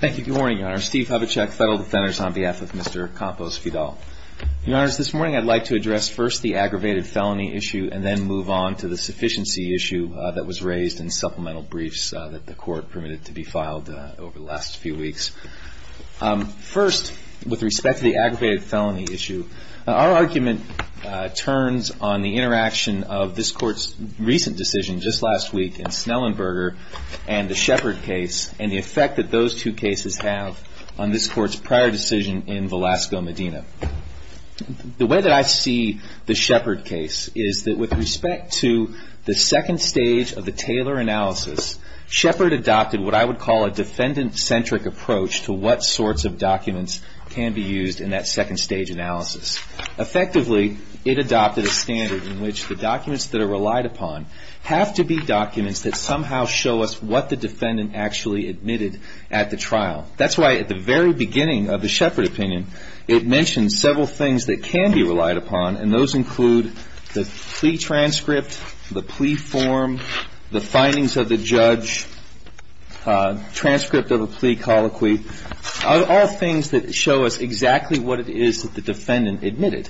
Thank you. Good morning, Your Honor. Steve Hubachek, Federal Defenders, on behalf of Mr. Campos-Vidal. Your Honor, this morning I'd like to address first the aggravated felony issue and then move on to the sufficiency issue that was raised in supplemental briefs that the Court permitted to be filed over the last few weeks. First, with respect to the aggravated felony issue, our argument turns on the interaction of this Court's recent decision just last week in Snellenberger and the Shepard case and the effect that those two cases have on this Court's prior decision in Velasco, Medina. The way that I see the Shepard case is that with respect to the second stage of the Taylor analysis, Shepard adopted what I would call a defendant-centric approach to what sorts of documents can be used in that second stage analysis. Effectively, it adopted a standard in which the documents that are relied upon have to be documents that somehow show us what the defendant actually admitted at the trial. That's why at the very beginning of the Shepard opinion, it mentioned several things that can be relied upon, and those include the plea transcript, the plea form, the findings of the judge, transcript of a plea colloquy, all things that show us exactly what it is that the defendant admitted.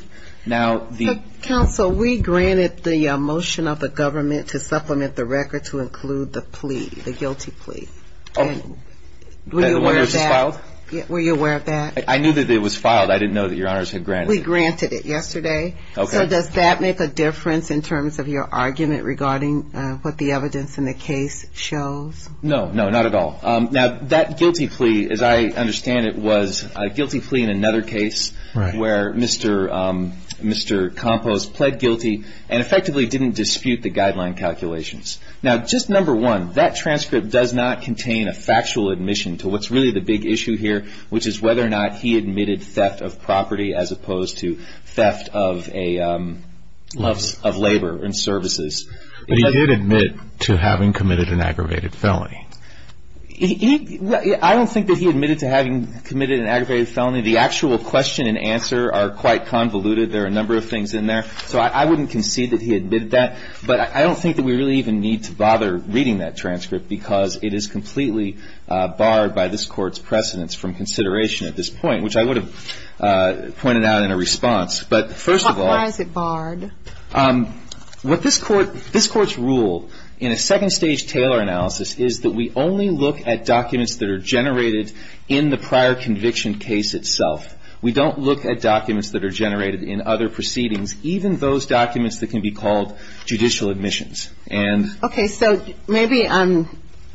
Counsel, we granted the motion of the government to supplement the record to include the plea, the guilty plea. Were you aware of that? I knew that it was filed. I didn't know that Your Honors had granted it. We granted it yesterday. So does that make a difference in terms of your argument regarding what the evidence in the case shows? No, not at all. That guilty plea, as I understand it, was a guilty plea in another case where Mr. Compost pled guilty and effectively didn't dispute the guideline calculations. Just number one, that transcript does not contain a factual admission to what's really the big issue here, which is whether or not he admitted theft of property as opposed to theft of labor and services. But he did admit to having committed an aggravated felony. I don't think that he admitted to having committed an aggravated felony. The actual question and answer are quite convoluted. There are a number of things in there. So I wouldn't concede that he admitted that. But I don't think that we really even need to bother reading that transcript because it is completely barred by this Court's precedence from consideration at this point, which I would have pointed out in a response. But first of all — Why is it barred? What this Court — this Court's rule in a second-stage Taylor analysis is that we only look at documents that are generated in the prior conviction case itself. We don't look at documents that are generated in other proceedings, even those documents that can be called judicial admissions. And — Okay. So maybe I'm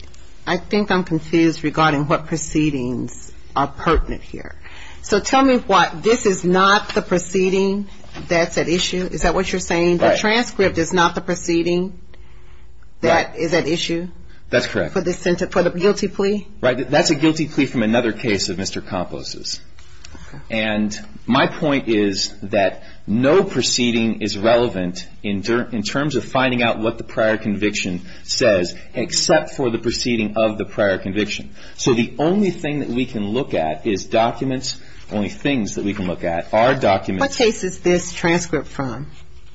— I think I'm confused regarding what proceedings are pertinent here. So tell me what — this is not the proceeding that's at issue? Is that what you're saying? Right. The transcript is not the proceeding that is at issue? That's correct. For the guilty plea? Right. That's a guilty plea from another case of Mr. Campos's. And my point is that no proceeding is relevant in terms of finding out what the prior conviction says except for the proceeding of the prior conviction. So the only thing that we can look at is documents. Only things that we can look at are documents — What case is this transcript from?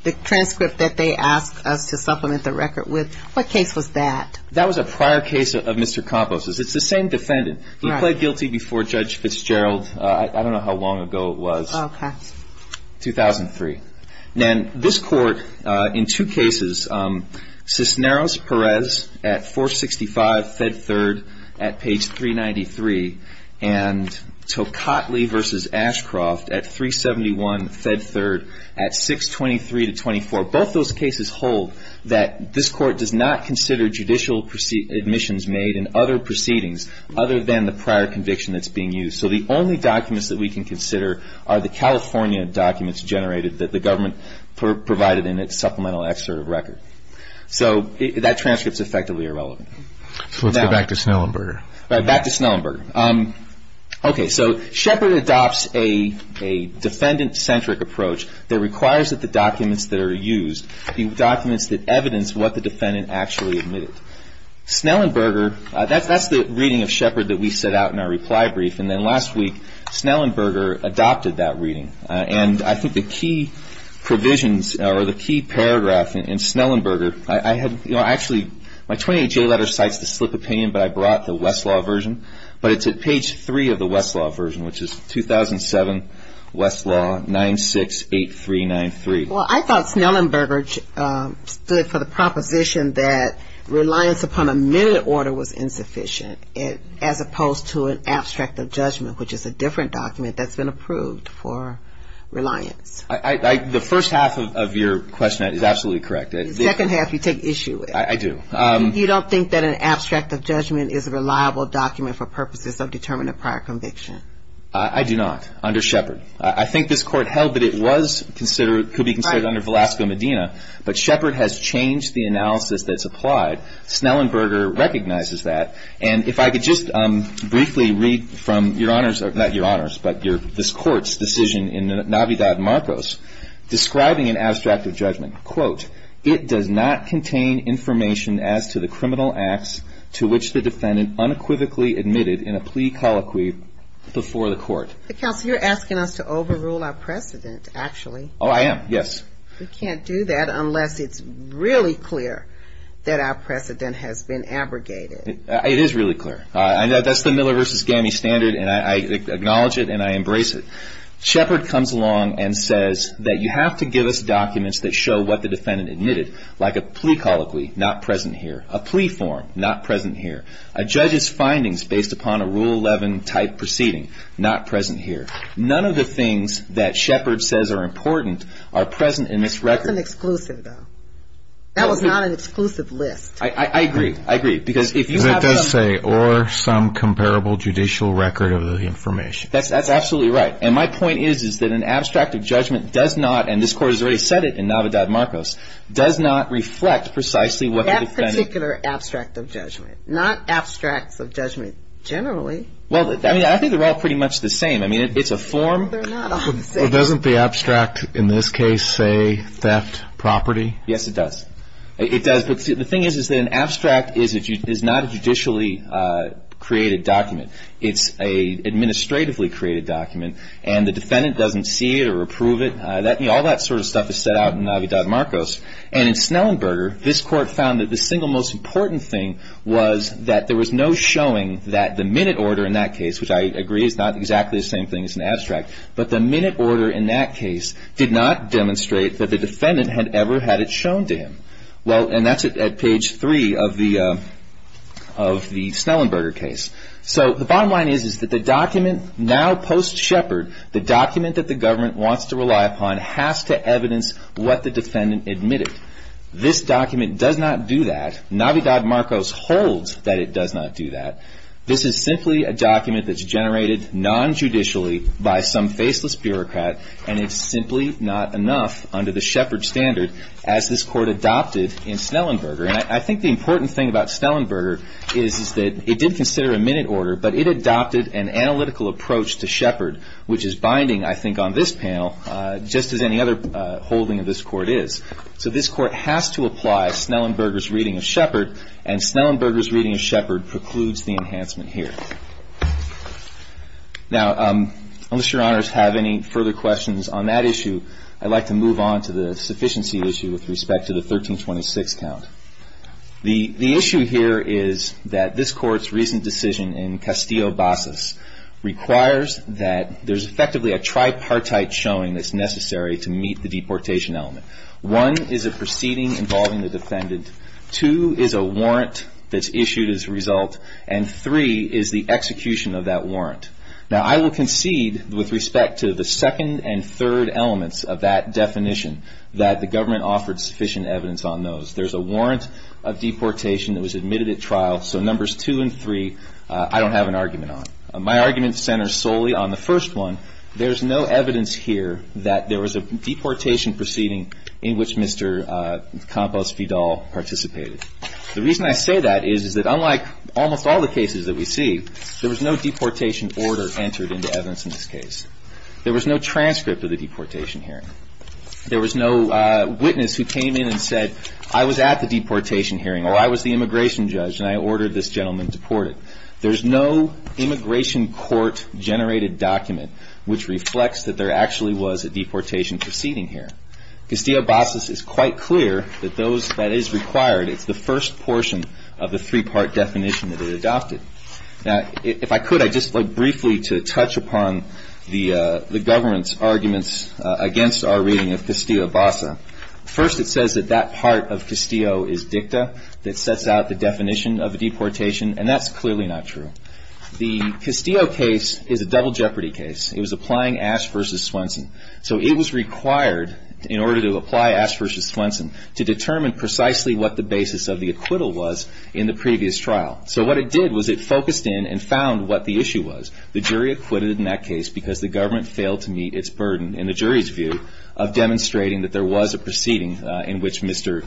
The transcript that they asked us to supplement the record with? What case was that? That was a prior case of Mr. Campos's. It's the same defendant. Right. He pled guilty before Judge Fitzgerald — I don't know how long ago it was. Okay. 2003. And this Court, in two cases, Cisneros-Perez at 465, Fed Third at page 393, and Toledo Cotley v. Ashcroft at 371, Fed Third at 623-24. Both those cases hold that this Court does not consider judicial admissions made in other proceedings other than the prior conviction that's being used. So the only documents that we can consider are the California documents generated that the government provided in its supplemental excerpt of record. So that transcript is effectively irrelevant. So let's go back to Snellenberger. Right. Back to Snellenberger. Okay. So Shepard adopts a defendant-centric approach that requires that the documents that are used be documents that evidence what the defendant actually admitted. Snellenberger — that's the reading of Shepard that we set out in our reply brief. And then last week, Snellenberger adopted that reading. And I think the key provisions or the key paragraph in Snellenberger — I had — you know, I actually — my 28-J letter cites the slip of pain, but I brought the Westlaw version. But it's at page 3 of the Westlaw version, which is 2007 Westlaw 968393. Well, I thought Snellenberger stood for the proposition that reliance upon a minute order was insufficient, as opposed to an abstract of judgment, which is a different document that's been approved for reliance. The first half of your question is absolutely correct. The second half, you take issue with. I do. You don't think that an abstract of judgment is a reliable document for purposes of determining a prior conviction? I do not, under Shepard. I think this Court held that it was considered — could be considered under Velasco-Medina, but Shepard has changed the analysis that's applied. Snellenberger recognizes that. And if I could just briefly read from Your Honor's — not Your Honor's, but this Court's decision in Navidad-Marcos, describing an abstract of judgment, quote, it does not contain information as to the criminal acts to which the defendant unequivocally admitted in a plea colloquy before the Court. But, counsel, you're asking us to overrule our precedent, actually. Oh, I am, yes. We can't do that unless it's really clear that our precedent has been abrogated. It is really clear. That's the Miller v. Gammey standard, and I acknowledge it and I embrace it. Shepard comes along and says that you have to give us documents that show what the defendant admitted, like a plea colloquy, not present here, a plea form, not present here, a judge's findings based upon a Rule 11-type proceeding, not present here. None of the things that Shepard says are important are present in this record. That's an exclusive, though. That was not an exclusive list. I agree. I agree. Because if you have — But it does say, or some comparable judicial record of the information. That's absolutely right. And my point is, is that an abstract of judgment does not — and this Court has already said it in Navidad-Marcos — does not reflect precisely what the defendant — That particular abstract of judgment. Not abstracts of judgment generally. Well, I mean, I think they're all pretty much the same. I mean, it's a form — They're not all the same. But doesn't the abstract, in this case, say theft property? Yes, it does. It does. But see, the thing is, is that an abstract is not a judicially created document. It's an administratively created document, and the defendant doesn't see it or approve it. All that sort of stuff is set out in Navidad-Marcos, and in Snellenberger, this Court found that the single most important thing was that there was no showing that the minute order in that case, which I agree is not exactly the same thing as an abstract, but the minute order in that case did not demonstrate that the defendant had ever had it shown to him. Well, and that's at page 3 of the Snellenberger case. So the bottom line is, is that the document now post-Sheppard, the document that the government wants to rely upon, has to evidence what the defendant admitted. This document does not do that. Navidad-Marcos holds that it does not do that. This is simply a document that's generated non-judicially by some faceless bureaucrat, and it's simply not enough under the Sheppard standard, as this Court adopted in Snellenberger. And I think the important thing about Snellenberger is that it did consider a minute order, but it adopted an analytical approach to Sheppard, which is binding, I think, on this panel, just as any other holding of this Court is. So this Court has to apply Snellenberger's reading of Sheppard, and Snellenberger's reading of Sheppard precludes the enhancement here. Now, unless Your Honors have any further questions on that issue, I'd like to move on to the sufficiency issue with respect to the 1326 count. The issue here is that this Court's recent decision in Castillo-Basas requires that there's effectively a tripartite showing that's necessary to meet the deportation element. One is a proceeding involving the defendant, two is a warrant that's issued as a result, and three is the execution of that warrant. Now, I will concede, with respect to the second and third elements of that definition, that the government offered sufficient evidence on those. There's a warrant of deportation that was admitted at trial, so numbers two and three, I don't have an argument on. My argument centers solely on the first one. There's no evidence here that there was a deportation proceeding in which Mr. Campos-Fidal participated. The reason I say that is that unlike almost all the cases that we see, there was no deportation order entered into evidence in this case. There was no transcript of the deportation hearing. There was no witness who came in and said, I was at the deportation hearing, or I was the immigration judge, and I ordered this gentleman deported. There's no immigration court-generated document which reflects that there actually was a deportation proceeding here. Castillo-Basas is quite clear that that is required. It's the first portion of the three-part definition that it adopted. If I could, I'd just like briefly to touch upon the government's arguments against our reading of Castillo-Basas. First, it says that that part of Castillo is dicta that sets out the definition of a deportation, and that's clearly not true. The Castillo case is a double jeopardy case. It was applying Ash v. Swenson. So it was required in order to apply Ash v. Swenson to determine precisely what the basis of the acquittal was in the previous trial. So what it did was it focused in and found what the issue was. The jury acquitted in that case because the government failed to meet its burden, in the jury's view, of demonstrating that there was a proceeding in which Mr.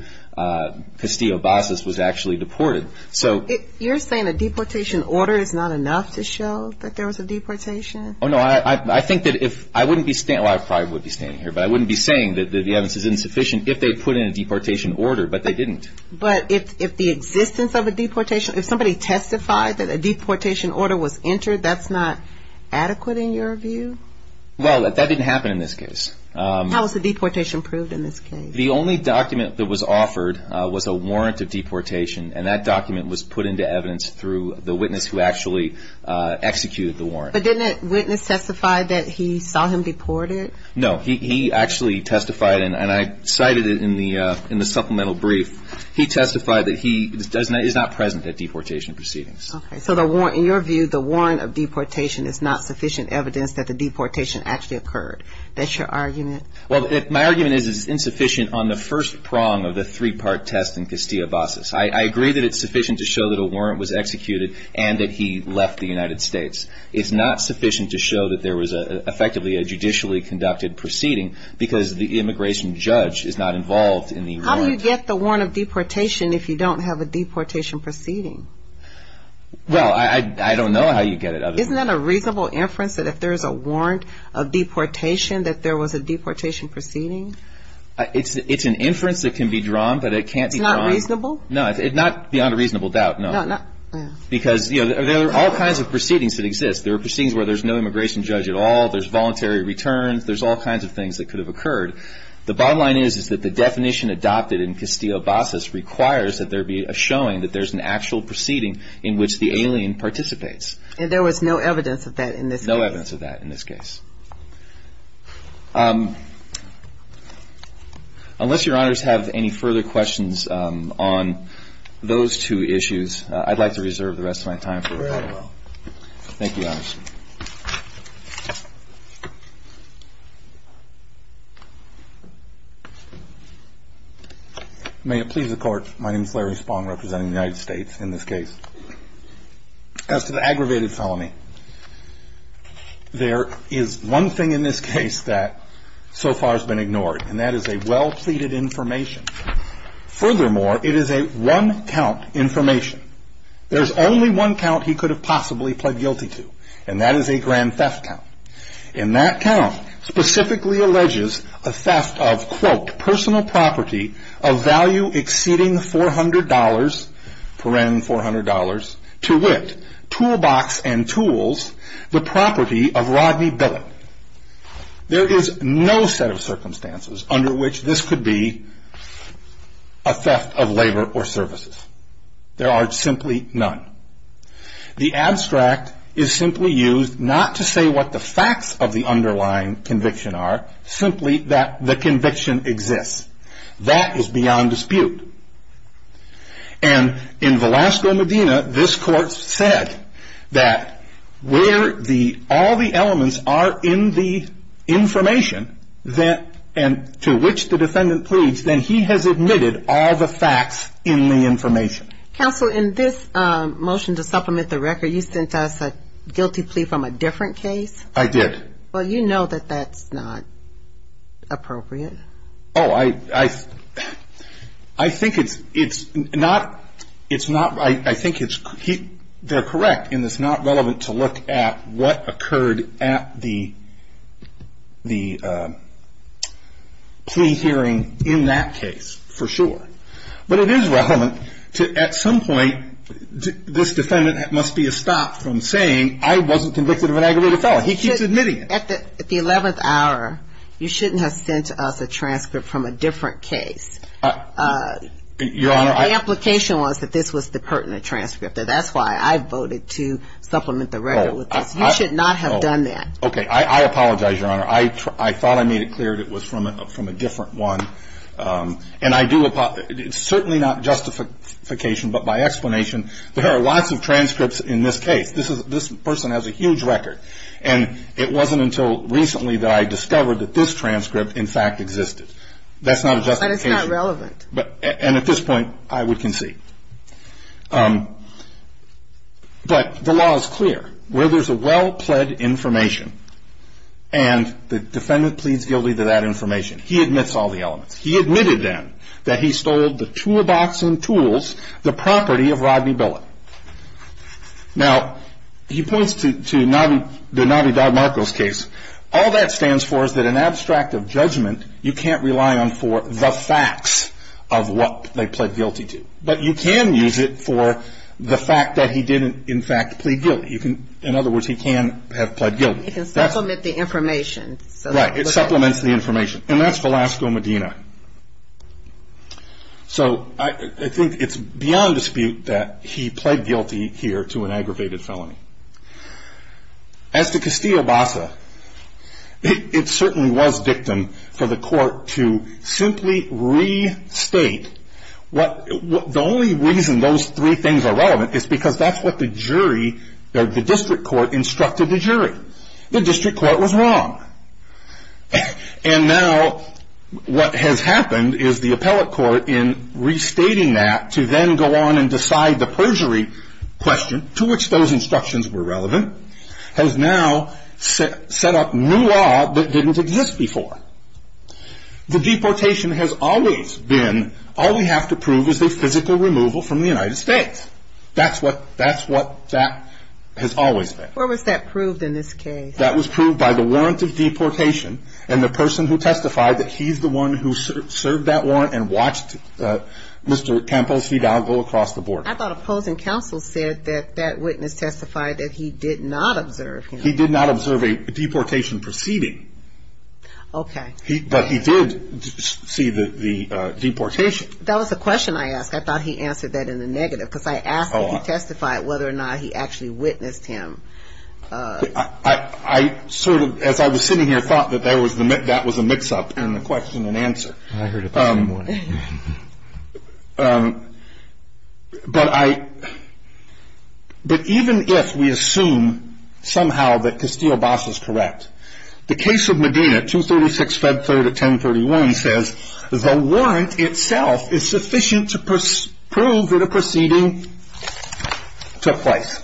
Castillo-Basas was actually deported. So you're saying a deportation order is not enough to show that there was a deportation? Oh, no. I think that if – I wouldn't be – well, I probably would be standing here, but I wouldn't be saying that the evidence is insufficient if they put in a deportation order, but they didn't. But if the existence of a deportation – if somebody testified that a deportation order was entered, that's not adequate in your view? Well, that didn't happen in this case. How was the deportation proved in this case? The only document that was offered was a warrant of deportation, and that document was put into evidence through the witness who actually executed the warrant. But didn't that witness testify that he saw him deported? No. He actually testified, and I cited it in the supplemental brief. He testified that he is not present at deportation proceedings. Okay. So the warrant – in your view, the warrant of deportation is not sufficient evidence that the deportation actually occurred. That's your argument? Well, my argument is it's insufficient on the first prong of the three-part test in Castillo-Basas. I agree that it's sufficient to show that a warrant was executed and that he left the United States. It's not sufficient to show that there was effectively a judicially conducted proceeding, because the immigration judge is not involved in the warrant. How do you get the warrant of deportation if you don't have a deportation proceeding? Well, I don't know how you get it other than – Isn't that a reasonable inference that if there's a warrant of deportation that there was a deportation proceeding? It's an inference that can be drawn, but it can't be drawn – It's not reasonable? No, not beyond a reasonable doubt, no. Because, you know, there are all kinds of proceedings that exist. There are proceedings where there's no immigration judge at all. There's voluntary returns. There's all kinds of things that could have occurred. The bottom line is that the definition adopted in Castillo-Basas requires that there be a showing that there's an actual proceeding in which the alien participates. And there was no evidence of that in this case? No evidence of that in this case. Unless Your Honors have any further questions on those two issues, I'd like to reserve the rest of my time for a moment. Thank you, Your Honors. May it please the Court. My name is Larry Spong, representing the United States in this case. As to the aggravated felony, there is one thing in this case that so far has been ignored, and that is a well-pleaded information. Furthermore, it is a one-count information. There's only one count he could have possibly pled guilty to, and that is a grand theft count. In that count, specifically alleges a theft of, quote, personal property of value exceeding $400, paren $400, to wit, toolbox and tools, the property of Rodney Billing. There is no set of circumstances under which this could be a theft of labor or services. There are simply none. The abstract is simply used not to say what the facts of the underlying conviction are, simply that the conviction exists. That is beyond dispute. And in Velasco, Medina, this Court said that where all the elements are in the information that, and to which the defendant pleads, then he has admitted all the facts in the information. Counsel, in this motion to supplement the record, you sent us a guilty plea from a different case? I did. Well, you know that that's not appropriate. Oh, I think it's not, I think it's, they're correct in it's not relevant to look at what the plea hearing in that case for sure. But it is relevant to, at some point, this defendant must be stopped from saying, I wasn't convicted of an aggravated felon. He keeps admitting it. At the 11th hour, you shouldn't have sent us a transcript from a different case. Your Honor, I The implication was that this was the pertinent transcript. That's why I voted to supplement the record with this. You should not have done that. Okay, I apologize, Your Honor. I thought I made it clear that it was from a different one. And I do, it's certainly not justification, but by explanation, there are lots of transcripts in this case. This person has a huge record. And it wasn't until recently that I discovered that this transcript, in fact, existed. That's not a justification. But it's not relevant. And at this point, I would concede. But the law is clear. Where there's a well-pled information, and the defendant pleads guilty to that information, he admits all the elements. He admitted, then, that he stole the toolbox and tools, the property of Rodney Billet. Now he points to the Navi Dodd-Marcos case. All that stands for is that an abstract of judgment you can't rely on for the facts of what they pled guilty to. But you can use it for the fact that he didn't, in fact, plead guilty. In other words, he can have pled guilty. He can supplement the information. Right, it supplements the information. And that's Velasco Medina. So I think it's beyond dispute that he pled guilty here to an aggravated felony. As to Castillo-Bassa, it certainly was victim for the court to simply restate what the only reason those three things are relevant is because that's what the jury, the district court, instructed the jury. The district court was wrong. And now what has happened is the appellate court, in restating that to then go on and decide the perjury question, to which those instructions were relevant, has now set up new law that didn't exist before. The deportation has always been, all we have to prove is a physical removal from the United States. That's what that has always been. Where was that proved in this case? That was proved by the warrant of deportation and the person who testified that he's the one who served that warrant and watched Mr. Campos Vidal go across the border. I thought opposing counsel said that that witness testified that he did not observe him. He did not observe a deportation proceeding. Okay. But he did see the deportation. That was the question I asked. I thought he answered that in the negative because I asked if he testified whether or not he actually witnessed him. I sort of, as I was sitting here, thought that that was a mix-up in the question and answer. I heard it that morning. But even if we assume somehow that Castillo-Bas is correct, the case of Medina, 236-Fed 3rd at 1031, says the warrant itself is sufficient to prove that a proceeding took place.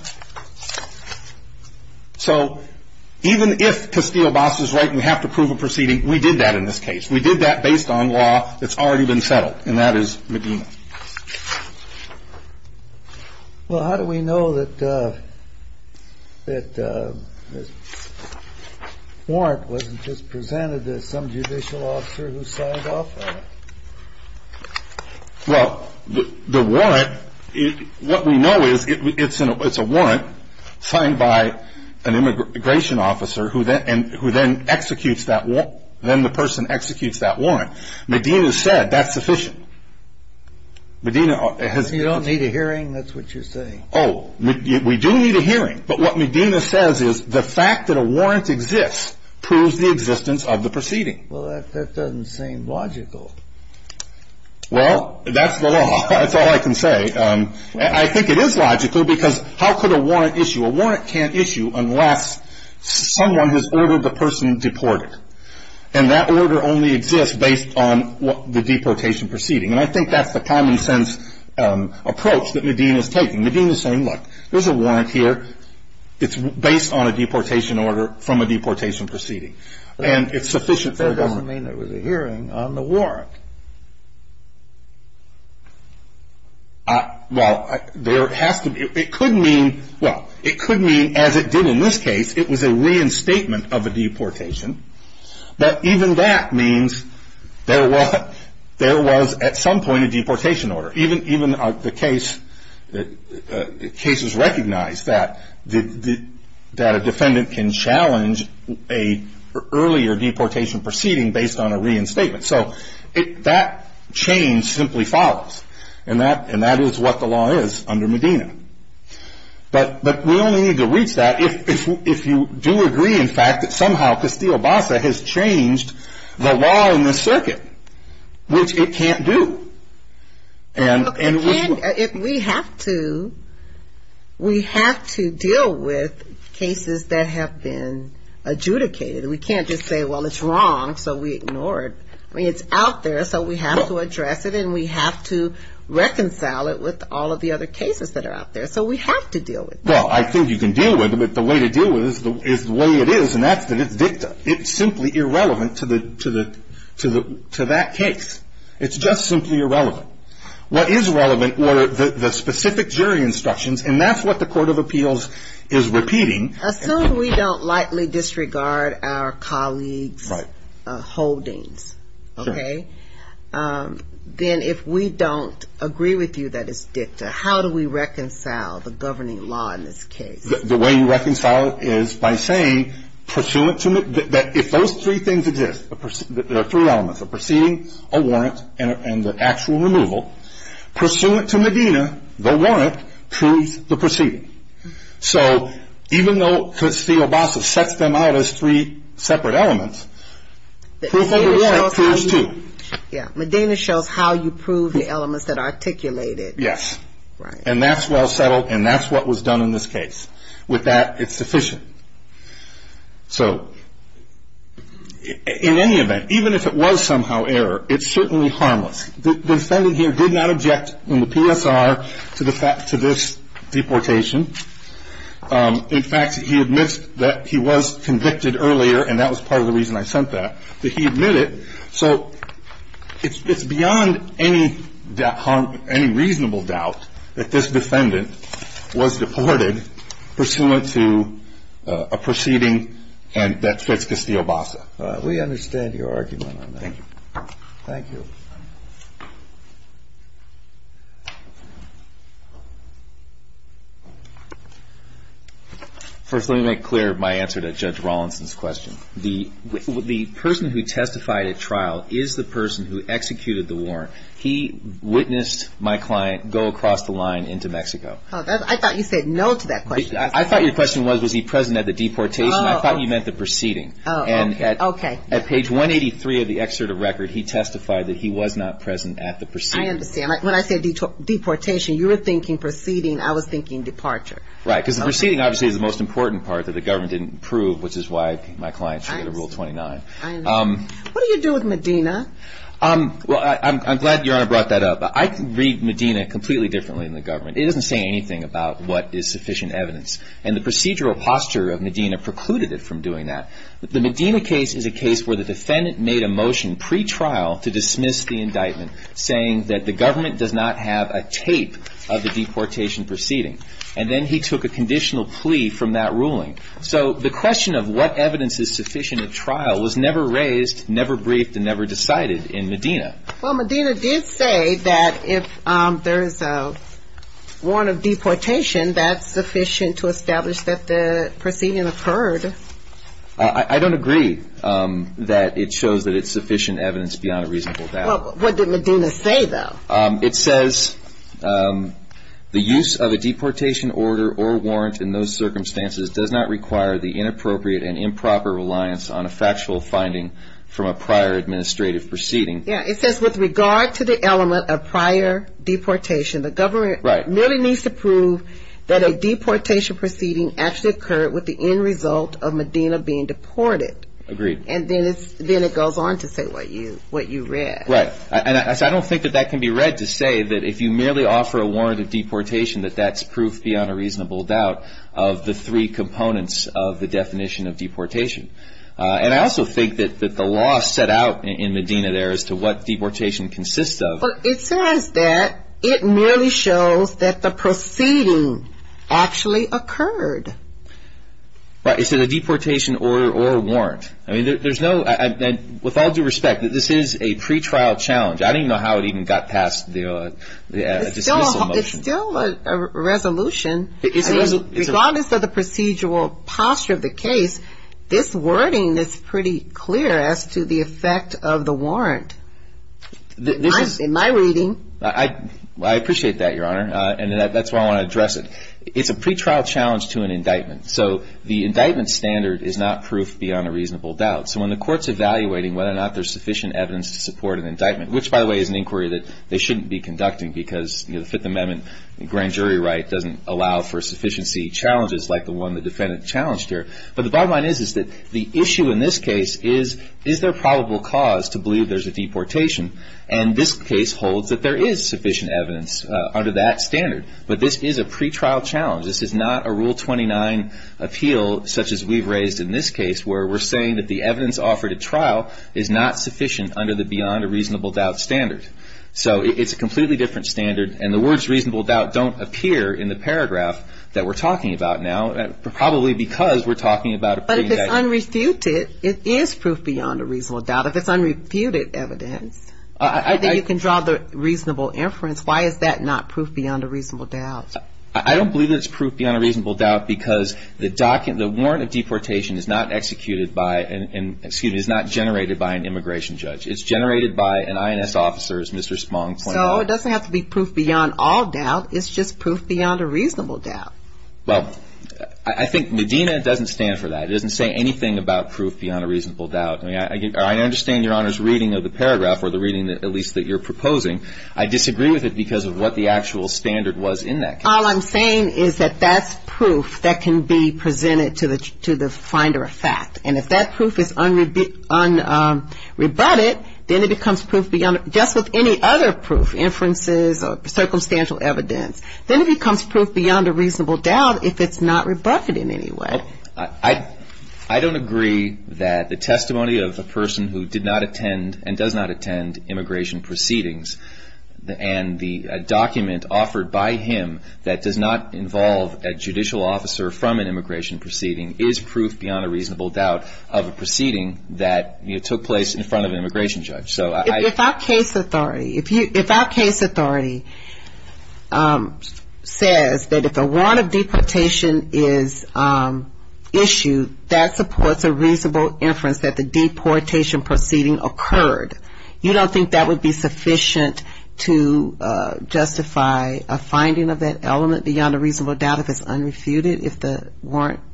So even if Castillo-Bas is right and we have to prove a proceeding, we did that in this case. We did that based on law that's already been settled, and that is Medina. Well, how do we know that the warrant wasn't just presented to some judicial officer who signed off on it? Well, the warrant, what we know is it's a warrant signed by an immigration officer who then executes that warrant. Medina said that's sufficient. You don't need a hearing? That's what you're saying. We do need a hearing, but what Medina says is the fact that a warrant exists proves the existence of the proceeding. Well, that doesn't seem logical. Well, that's the law. That's all I can say. I think it is logical because how could a person deport it? And that order only exists based on the deportation proceeding, and I think that's the common sense approach that Medina is taking. Medina is saying, look, there's a warrant here. It's based on a deportation order from a deportation proceeding, and it's sufficient for a government. But that doesn't mean there was a hearing on the warrant. Well, there has to be. It could mean, as it did in this case, it was a reinstatement of a deportation, but even that means there was at some point a deportation order. Even the case is recognized that a defendant can challenge an earlier deportation proceeding based on a reinstatement, so that change simply follows, and that is what the law is under Medina. But we only need to reach that if you do agree, in fact, that somehow Castillo-Bassa has changed the law in this circuit, which it can't do. We have to deal with cases that have been adjudicated. We can't just say, well, it's wrong, so we ignore it. I mean, it's out there, so we have to address it, and we have to reconcile it with all of the other cases that are out there, so we have to deal with it. Well, I think you can deal with it, but the way to deal with it is the way it is, and that's that it's dicta. It's simply irrelevant to that case. It's just simply irrelevant. What is relevant were the specific jury instructions, and that's what the Court of Appeals is repeating. Assume we don't lightly disregard our colleagues' holdings, okay? Then, if we don't agree with you that it's dicta, how do we reconcile the governing law in this case? The way you reconcile it is by saying, if those three things exist, the three elements, the proceeding, a warrant, and the actual removal, pursuant to Medina, the warrant proves the proceeding. So even though Castillo-Bassa sets them out as three separate elements, proof of the warrant appears, too. Yeah, Medina shows how you prove the elements that are articulated. Yes, and that's well settled, and that's what was done in this case. With that, it's sufficient. So in any event, even if it was somehow error, it's certainly harmless. The defendant here did not object in the PSR to this deportation. In fact, he admits that he was convicted earlier, and that was part of the reason I sent that, that he admitted. So it's beyond any reasonable doubt that this defendant was deported pursuant to a proceeding that fits Castillo-Bassa. We understand your argument on that. Thank you. First, let me make clear my answer to Judge Rawlinson's question. The person who testified at trial is the person who executed the warrant. He witnessed my client go across the line into Mexico. I thought you said no to that question. I thought your question was, was he present at the deportation? I thought you meant the he was not present at the proceeding. I understand. When I said deportation, you were thinking proceeding. I was thinking departure. Right, because the proceeding, obviously, is the most important part that the government didn't prove, which is why my client should get a Rule 29. I understand. What do you do with Medina? Well, I'm glad Your Honor brought that up. I read Medina completely differently in the government. It doesn't say anything about what is sufficient evidence, and the procedural posture of Medina precluded it from doing that. The Medina case is a case where the indictment says that the government does not have a tape of the deportation proceeding, and then he took a conditional plea from that ruling. So the question of what evidence is sufficient at trial was never raised, never briefed, and never decided in Medina. Well, Medina did say that if there is a warrant of deportation, that's sufficient to establish that the proceeding occurred. I don't agree that it shows that it's sufficient evidence beyond a reasonable doubt. Well, what did Medina say, though? It says, the use of a deportation order or warrant in those circumstances does not require the inappropriate and improper reliance on a factual finding from a prior administrative proceeding. Yeah, it says with regard to the element of prior deportation, the government merely needs to prove that a deportation proceeding actually occurred with the end result of Medina being deported. Agreed. And then it goes on to say what you read. Right. And I don't think that that can be read to say that if you merely offer a warrant of deportation, that that's proof beyond a reasonable doubt of the three components of the definition of deportation. And I also think that the law set out in Medina there as to what deportation consists of. But it says that it merely shows that the proceeding actually occurred. Right. Is it a deportation order or warrant? I mean, there's no – with all due respect, this is a pretrial challenge. I don't even know how it even got past the dismissal motion. It's still a resolution. I mean, regardless of the procedural posture of the case, this wording is pretty clear as to the effect of the warrant. In my reading – I appreciate that, Your Honor. And that's why I want to address it. It's a pretrial challenge to an indictment. So the indictment standard is not proof beyond a reasonable sufficient evidence to support an indictment, which, by the way, is an inquiry that they shouldn't be conducting because the Fifth Amendment grand jury right doesn't allow for sufficiency challenges like the one the defendant challenged here. But the bottom line is, is that the issue in this case is, is there probable cause to believe there's a deportation? And this case holds that there is sufficient evidence under that standard. But this is a pretrial challenge. This is not a Rule 29 appeal, such as we've raised in this case, where we're saying that the evidence offered at trial is not sufficient under the beyond a reasonable doubt standard. So it's a completely different standard. And the words reasonable doubt don't appear in the paragraph that we're talking about now, probably because we're talking about a pretty – But if it's unrefuted, it is proof beyond a reasonable doubt. If it's unrefuted evidence, I think you can draw the reasonable inference. Why is that not proof beyond a reasonable doubt? I don't believe that it's proof beyond a reasonable doubt because the warrant of deportation is not executed by, excuse me, is not generated by an immigration judge. It's generated by an INS officer's Mr. Spong claim. So it doesn't have to be proof beyond all doubt. It's just proof beyond a reasonable doubt. Well, I think Medina doesn't stand for that. It doesn't say anything about proof beyond a reasonable doubt. I mean, I understand Your Honor's reading of the paragraph, or the reading at least that you're proposing. I disagree with it because of what the actual standard was in that case. All I'm saying is that that's proof that can be presented to the finder of fact. And if that proof is unrebutted, then it becomes proof beyond – just with any other proof, inferences or circumstantial evidence, then it becomes proof beyond a reasonable doubt if it's not rebutted in any way. I don't agree that the testimony of a person who did not attend and does not attend immigration proceedings and the document offered by him that does not involve a judicial officer from an immigration proceeding is proof beyond a reasonable doubt of a proceeding that took place in front of an immigration judge. If our case authority says that if a warrant of deportation is issued, that supports a reasonable inference that the deportation proceeding occurred, you don't think that would be sufficient to justify a finding of that element beyond a reasonable doubt if it's unrebutted? If the warrant –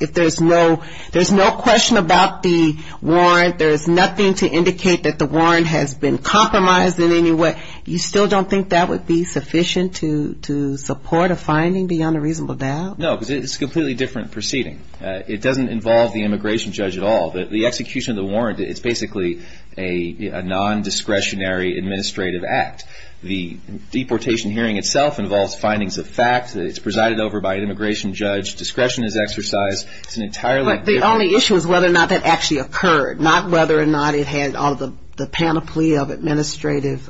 if there's no – there's no question about the warrant, there's nothing to indicate that the warrant has been compromised in any way, you still don't think that would be sufficient to support a finding beyond a reasonable doubt? No, because it's a completely different proceeding. It doesn't involve the immigration judge at all. The execution of the warrant, it's basically a non-discretionary administrative act. The deportation hearing itself involves findings of fact. It's presided over by an immigration judge. Discretion is exercised. It's an entirely different – But the only issue is whether or not that actually occurred, not whether or not it had all the panoply of administrative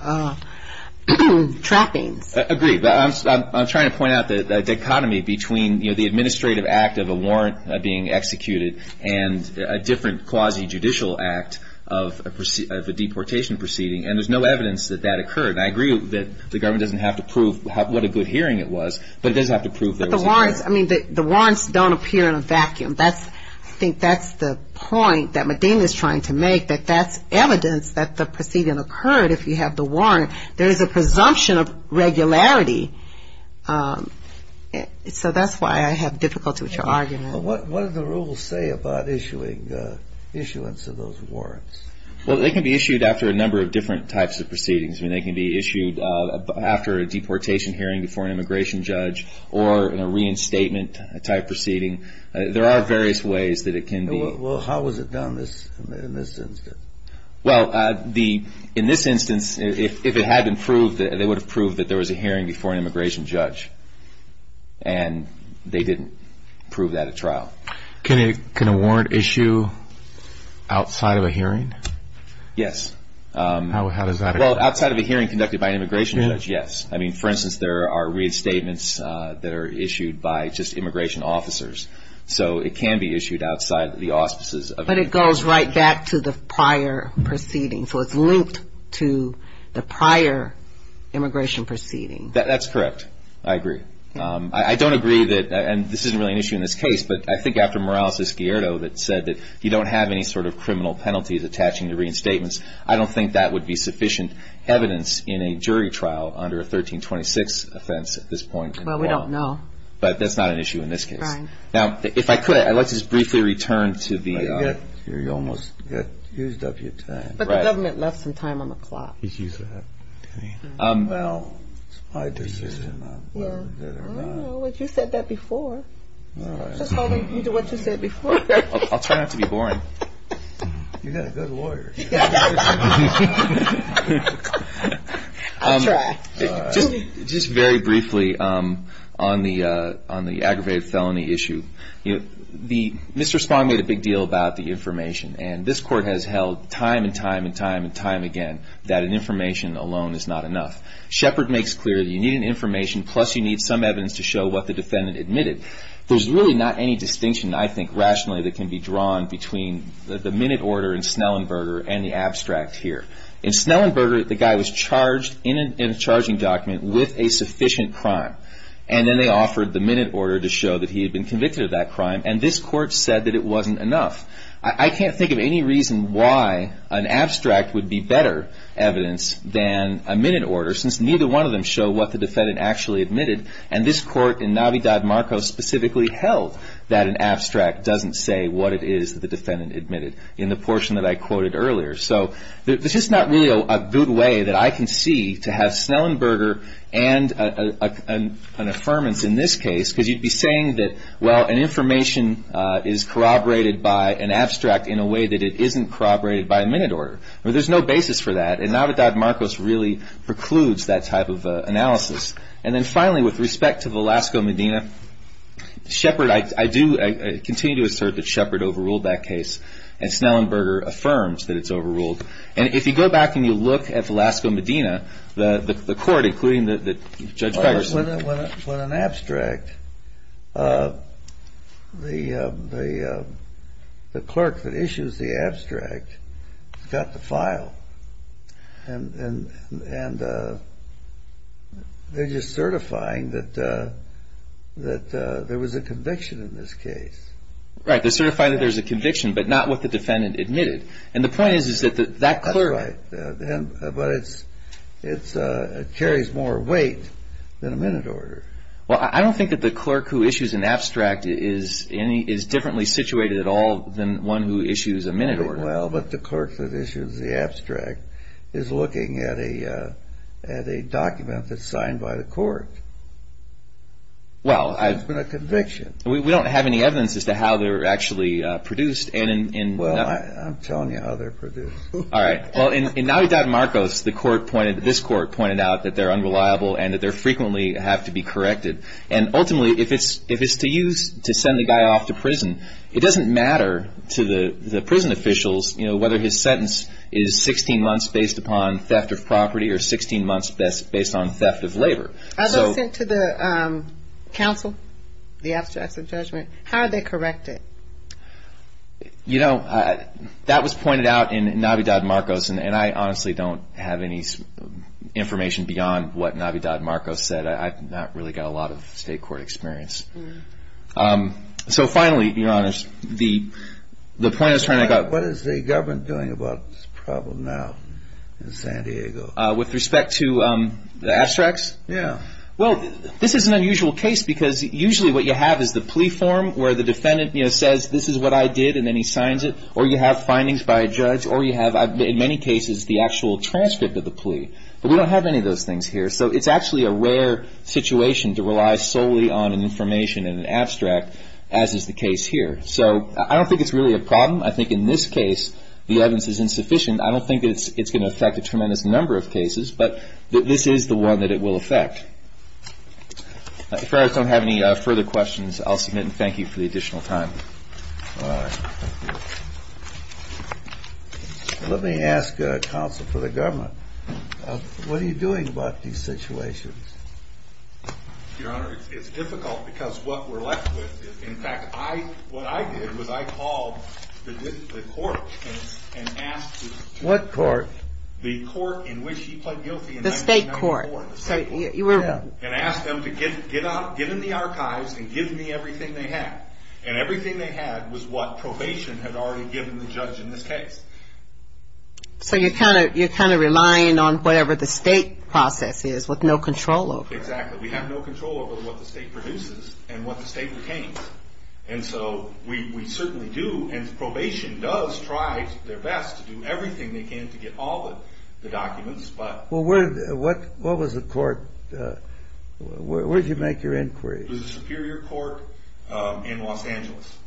trappings. Agreed. I'm trying to point out the dichotomy between the administrative act of a warrant being executed and a different quasi-judicial act of a deportation proceeding, and there's no evidence that that occurred. I agree that the government doesn't have to prove what a good hearing it was, but it does have to prove there was a hearing. But the warrants – I mean, the warrants don't appear in a vacuum. That's – I think that's the point that Medina's trying to make, that that's evidence that the proceeding occurred if you have the warrant. There is a presumption of regularity. So that's why I have difficulty with your argument. What do the rules say about issuing – issuance of those warrants? Well, they can be issued after a number of different types of proceedings. I mean, they can be issued after a deportation hearing before an immigration judge or in a reinstatement type proceeding. There are various ways that it can be – Well, how was it done in this instance? Well, the – in this instance, if it had been proved – they would have proved that there was a hearing before an immigration judge, and they didn't prove that at trial. Can a warrant issue outside of a hearing? Yes. How does that occur? Well, outside of a hearing conducted by an immigration judge, yes. I mean, for instance, there are reinstatements that are issued by just immigration officers. So it can be issued outside the auspices of an immigration judge. But it goes right back to the prior proceeding. So it's linked to the prior immigration proceeding. That's correct. I agree. I don't agree that – and this isn't really an issue in this case, but I think after Morales-Escuero that said that you don't have any sort of criminal penalties attaching to reinstatements, I don't think that would be sufficient evidence in a jury trial under a 1326 offense at this point in time. Well, we don't know. But that's not an issue in this case. Right. Now, if I could, I'd like to just briefly return to the – You almost used up your time. But the government left some time on the clock. Well, it's my decision whether or not – Well, you said that before. Just hold on to what you said before. I'll try not to be boring. You've got a good lawyer. I'm sorry. I'm sorry. I'm sorry. I'm sorry. I'm sorry. I'm sorry. I'm sorry. I'm sorry. I'm sorry. I'm sorry. I'm sorry. I'm sorry, I'm sorry. I'm sorry, Mr. Spong made a big deal about the information. And this Court has held time and time and time and time again that an information alone is not enough. Shepherd makes clear that you need an information, plus, you need some evidence to show what the defendant admitted. There's really not any distinction, I think, rationally that can be drawn between the minute order in Snellenburger and the abstract here. In Snellenburger, the guy was charged in a charging document with a sufficient crime. And then they offered the minute order to show that he had been convicted of that crime. And this Court said that it wasn't enough. I can't think of any reason why an abstract would be better evidence than a minute order since neither one of them show what the defendant actually admitted. And this Court in Navidad Marcos specifically held that an abstract doesn't say what it is that the defendant admitted in the portion that I quoted earlier. So this is not really a good way that I can see to have Snellenburger and an affirmance in this case because you'd be saying that, well, an information is corroborated by an abstract in a way that it isn't corroborated by a minute order. There's no basis for that. And Navidad Marcos really precludes that type of analysis. And then finally, with respect to the Lascaux-Medina, Shepherd, I do continue to assert that Shepherd overruled that case. And Snellenburger affirms that it's overruled. And if you go back and you look at the Lascaux-Medina, the Court, including the Judge Ferguson When an abstract, the clerk that issues the abstract got the file and they're just certifying that there was a conviction in this case. Right. They certify that there's a conviction, but not what the defendant admitted. And the point is that that clerk... That's right. But it carries more weight than a minute order. Well, I don't think that the clerk who issues an abstract is differently situated at all than one who issues a minute order. Well, but the clerk that issues the abstract is looking at a document that's signed by the Court. Well, I... It's been a conviction. We don't have any evidence as to how they're actually produced. Well, I'm telling you how they're produced. All right. Well, in Navidad Marcos, the Court pointed, this Court pointed out that they're unreliable and that they frequently have to be corrected. And ultimately, if it's to use to send the guy off to prison, it doesn't matter to the prison officials, you know, whether his sentence is 16 months based upon theft of property or 16 months based on theft of labor. Are those sent to the counsel, the abstracts of judgment? How are they corrected? You know, that was pointed out in Navidad Marcos, and I honestly don't have any information beyond what Navidad Marcos said. I've not really got a lot of state court experience. So finally, Your Honors, the point is trying to... What is the government doing about this problem now in San Diego? With respect to the abstracts? Well, this is an unusual case because usually what you have is the plea form, where the defendant, you know, says, this is what I did, and then he signs it. Or you have findings by a judge, or you have, in many cases, the actual transcript of the plea. But we don't have any of those things here. So it's actually a rare situation to rely solely on information in an abstract, as is the case here. So I don't think it's really a problem. I think in this case, the evidence is insufficient. I don't think it's going to affect a tremendous number of cases, but this is the one that it will affect. If I don't have any further questions, I'll submit, and thank you for the additional time. Let me ask counsel for the government, what are you doing about these situations? Your Honor, it's difficult because what we're left with is, in fact, what I did was I called the court and asked... What court? The court in which he pled guilty in 1994. The state court. And asked them to get in the archives and give me everything they had. And everything they had was what probation had already given the judge in this case. So you're kind of relying on whatever the state process is, with no control over it. Exactly. We have no control over what the state produces and what the state retains. And so we certainly do, and probation does try their best to do everything they can to get all of the documents, but... What was the court, where did you make your inquiries? It was the Superior Court in Los Angeles.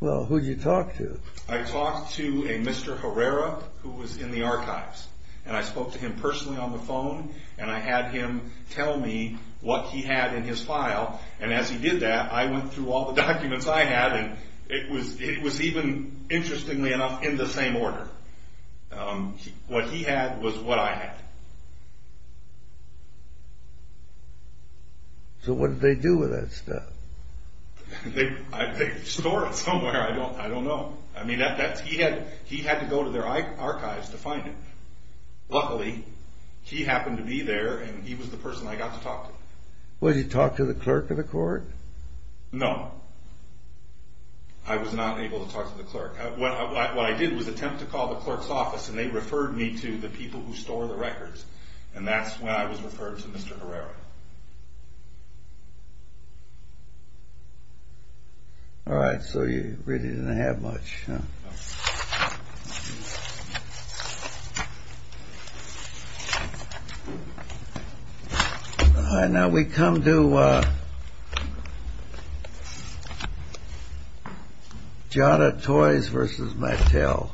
Well, who'd you talk to? I talked to a Mr. Herrera, who was in the archives. And I spoke to him personally on the phone, and I had him tell me what he had in his file. And as he did that, I went through all the documents I had, and it was even, interestingly enough, in the same order. What he had was what I had. So what did they do with that stuff? They store it somewhere, I don't know. I mean, he had to go to their archives to find it. Luckily, he happened to be there, and he was the person I got to talk to. Well, did you talk to the clerk of the court? No. I was not able to talk to the clerk. What I did was attempt to call the clerk's office, and they referred me to the people who store the records. And that's when I was referred to Mr. Herrera. All right, so you really didn't have much. All right, now we come to Jada Toys v. Mattel.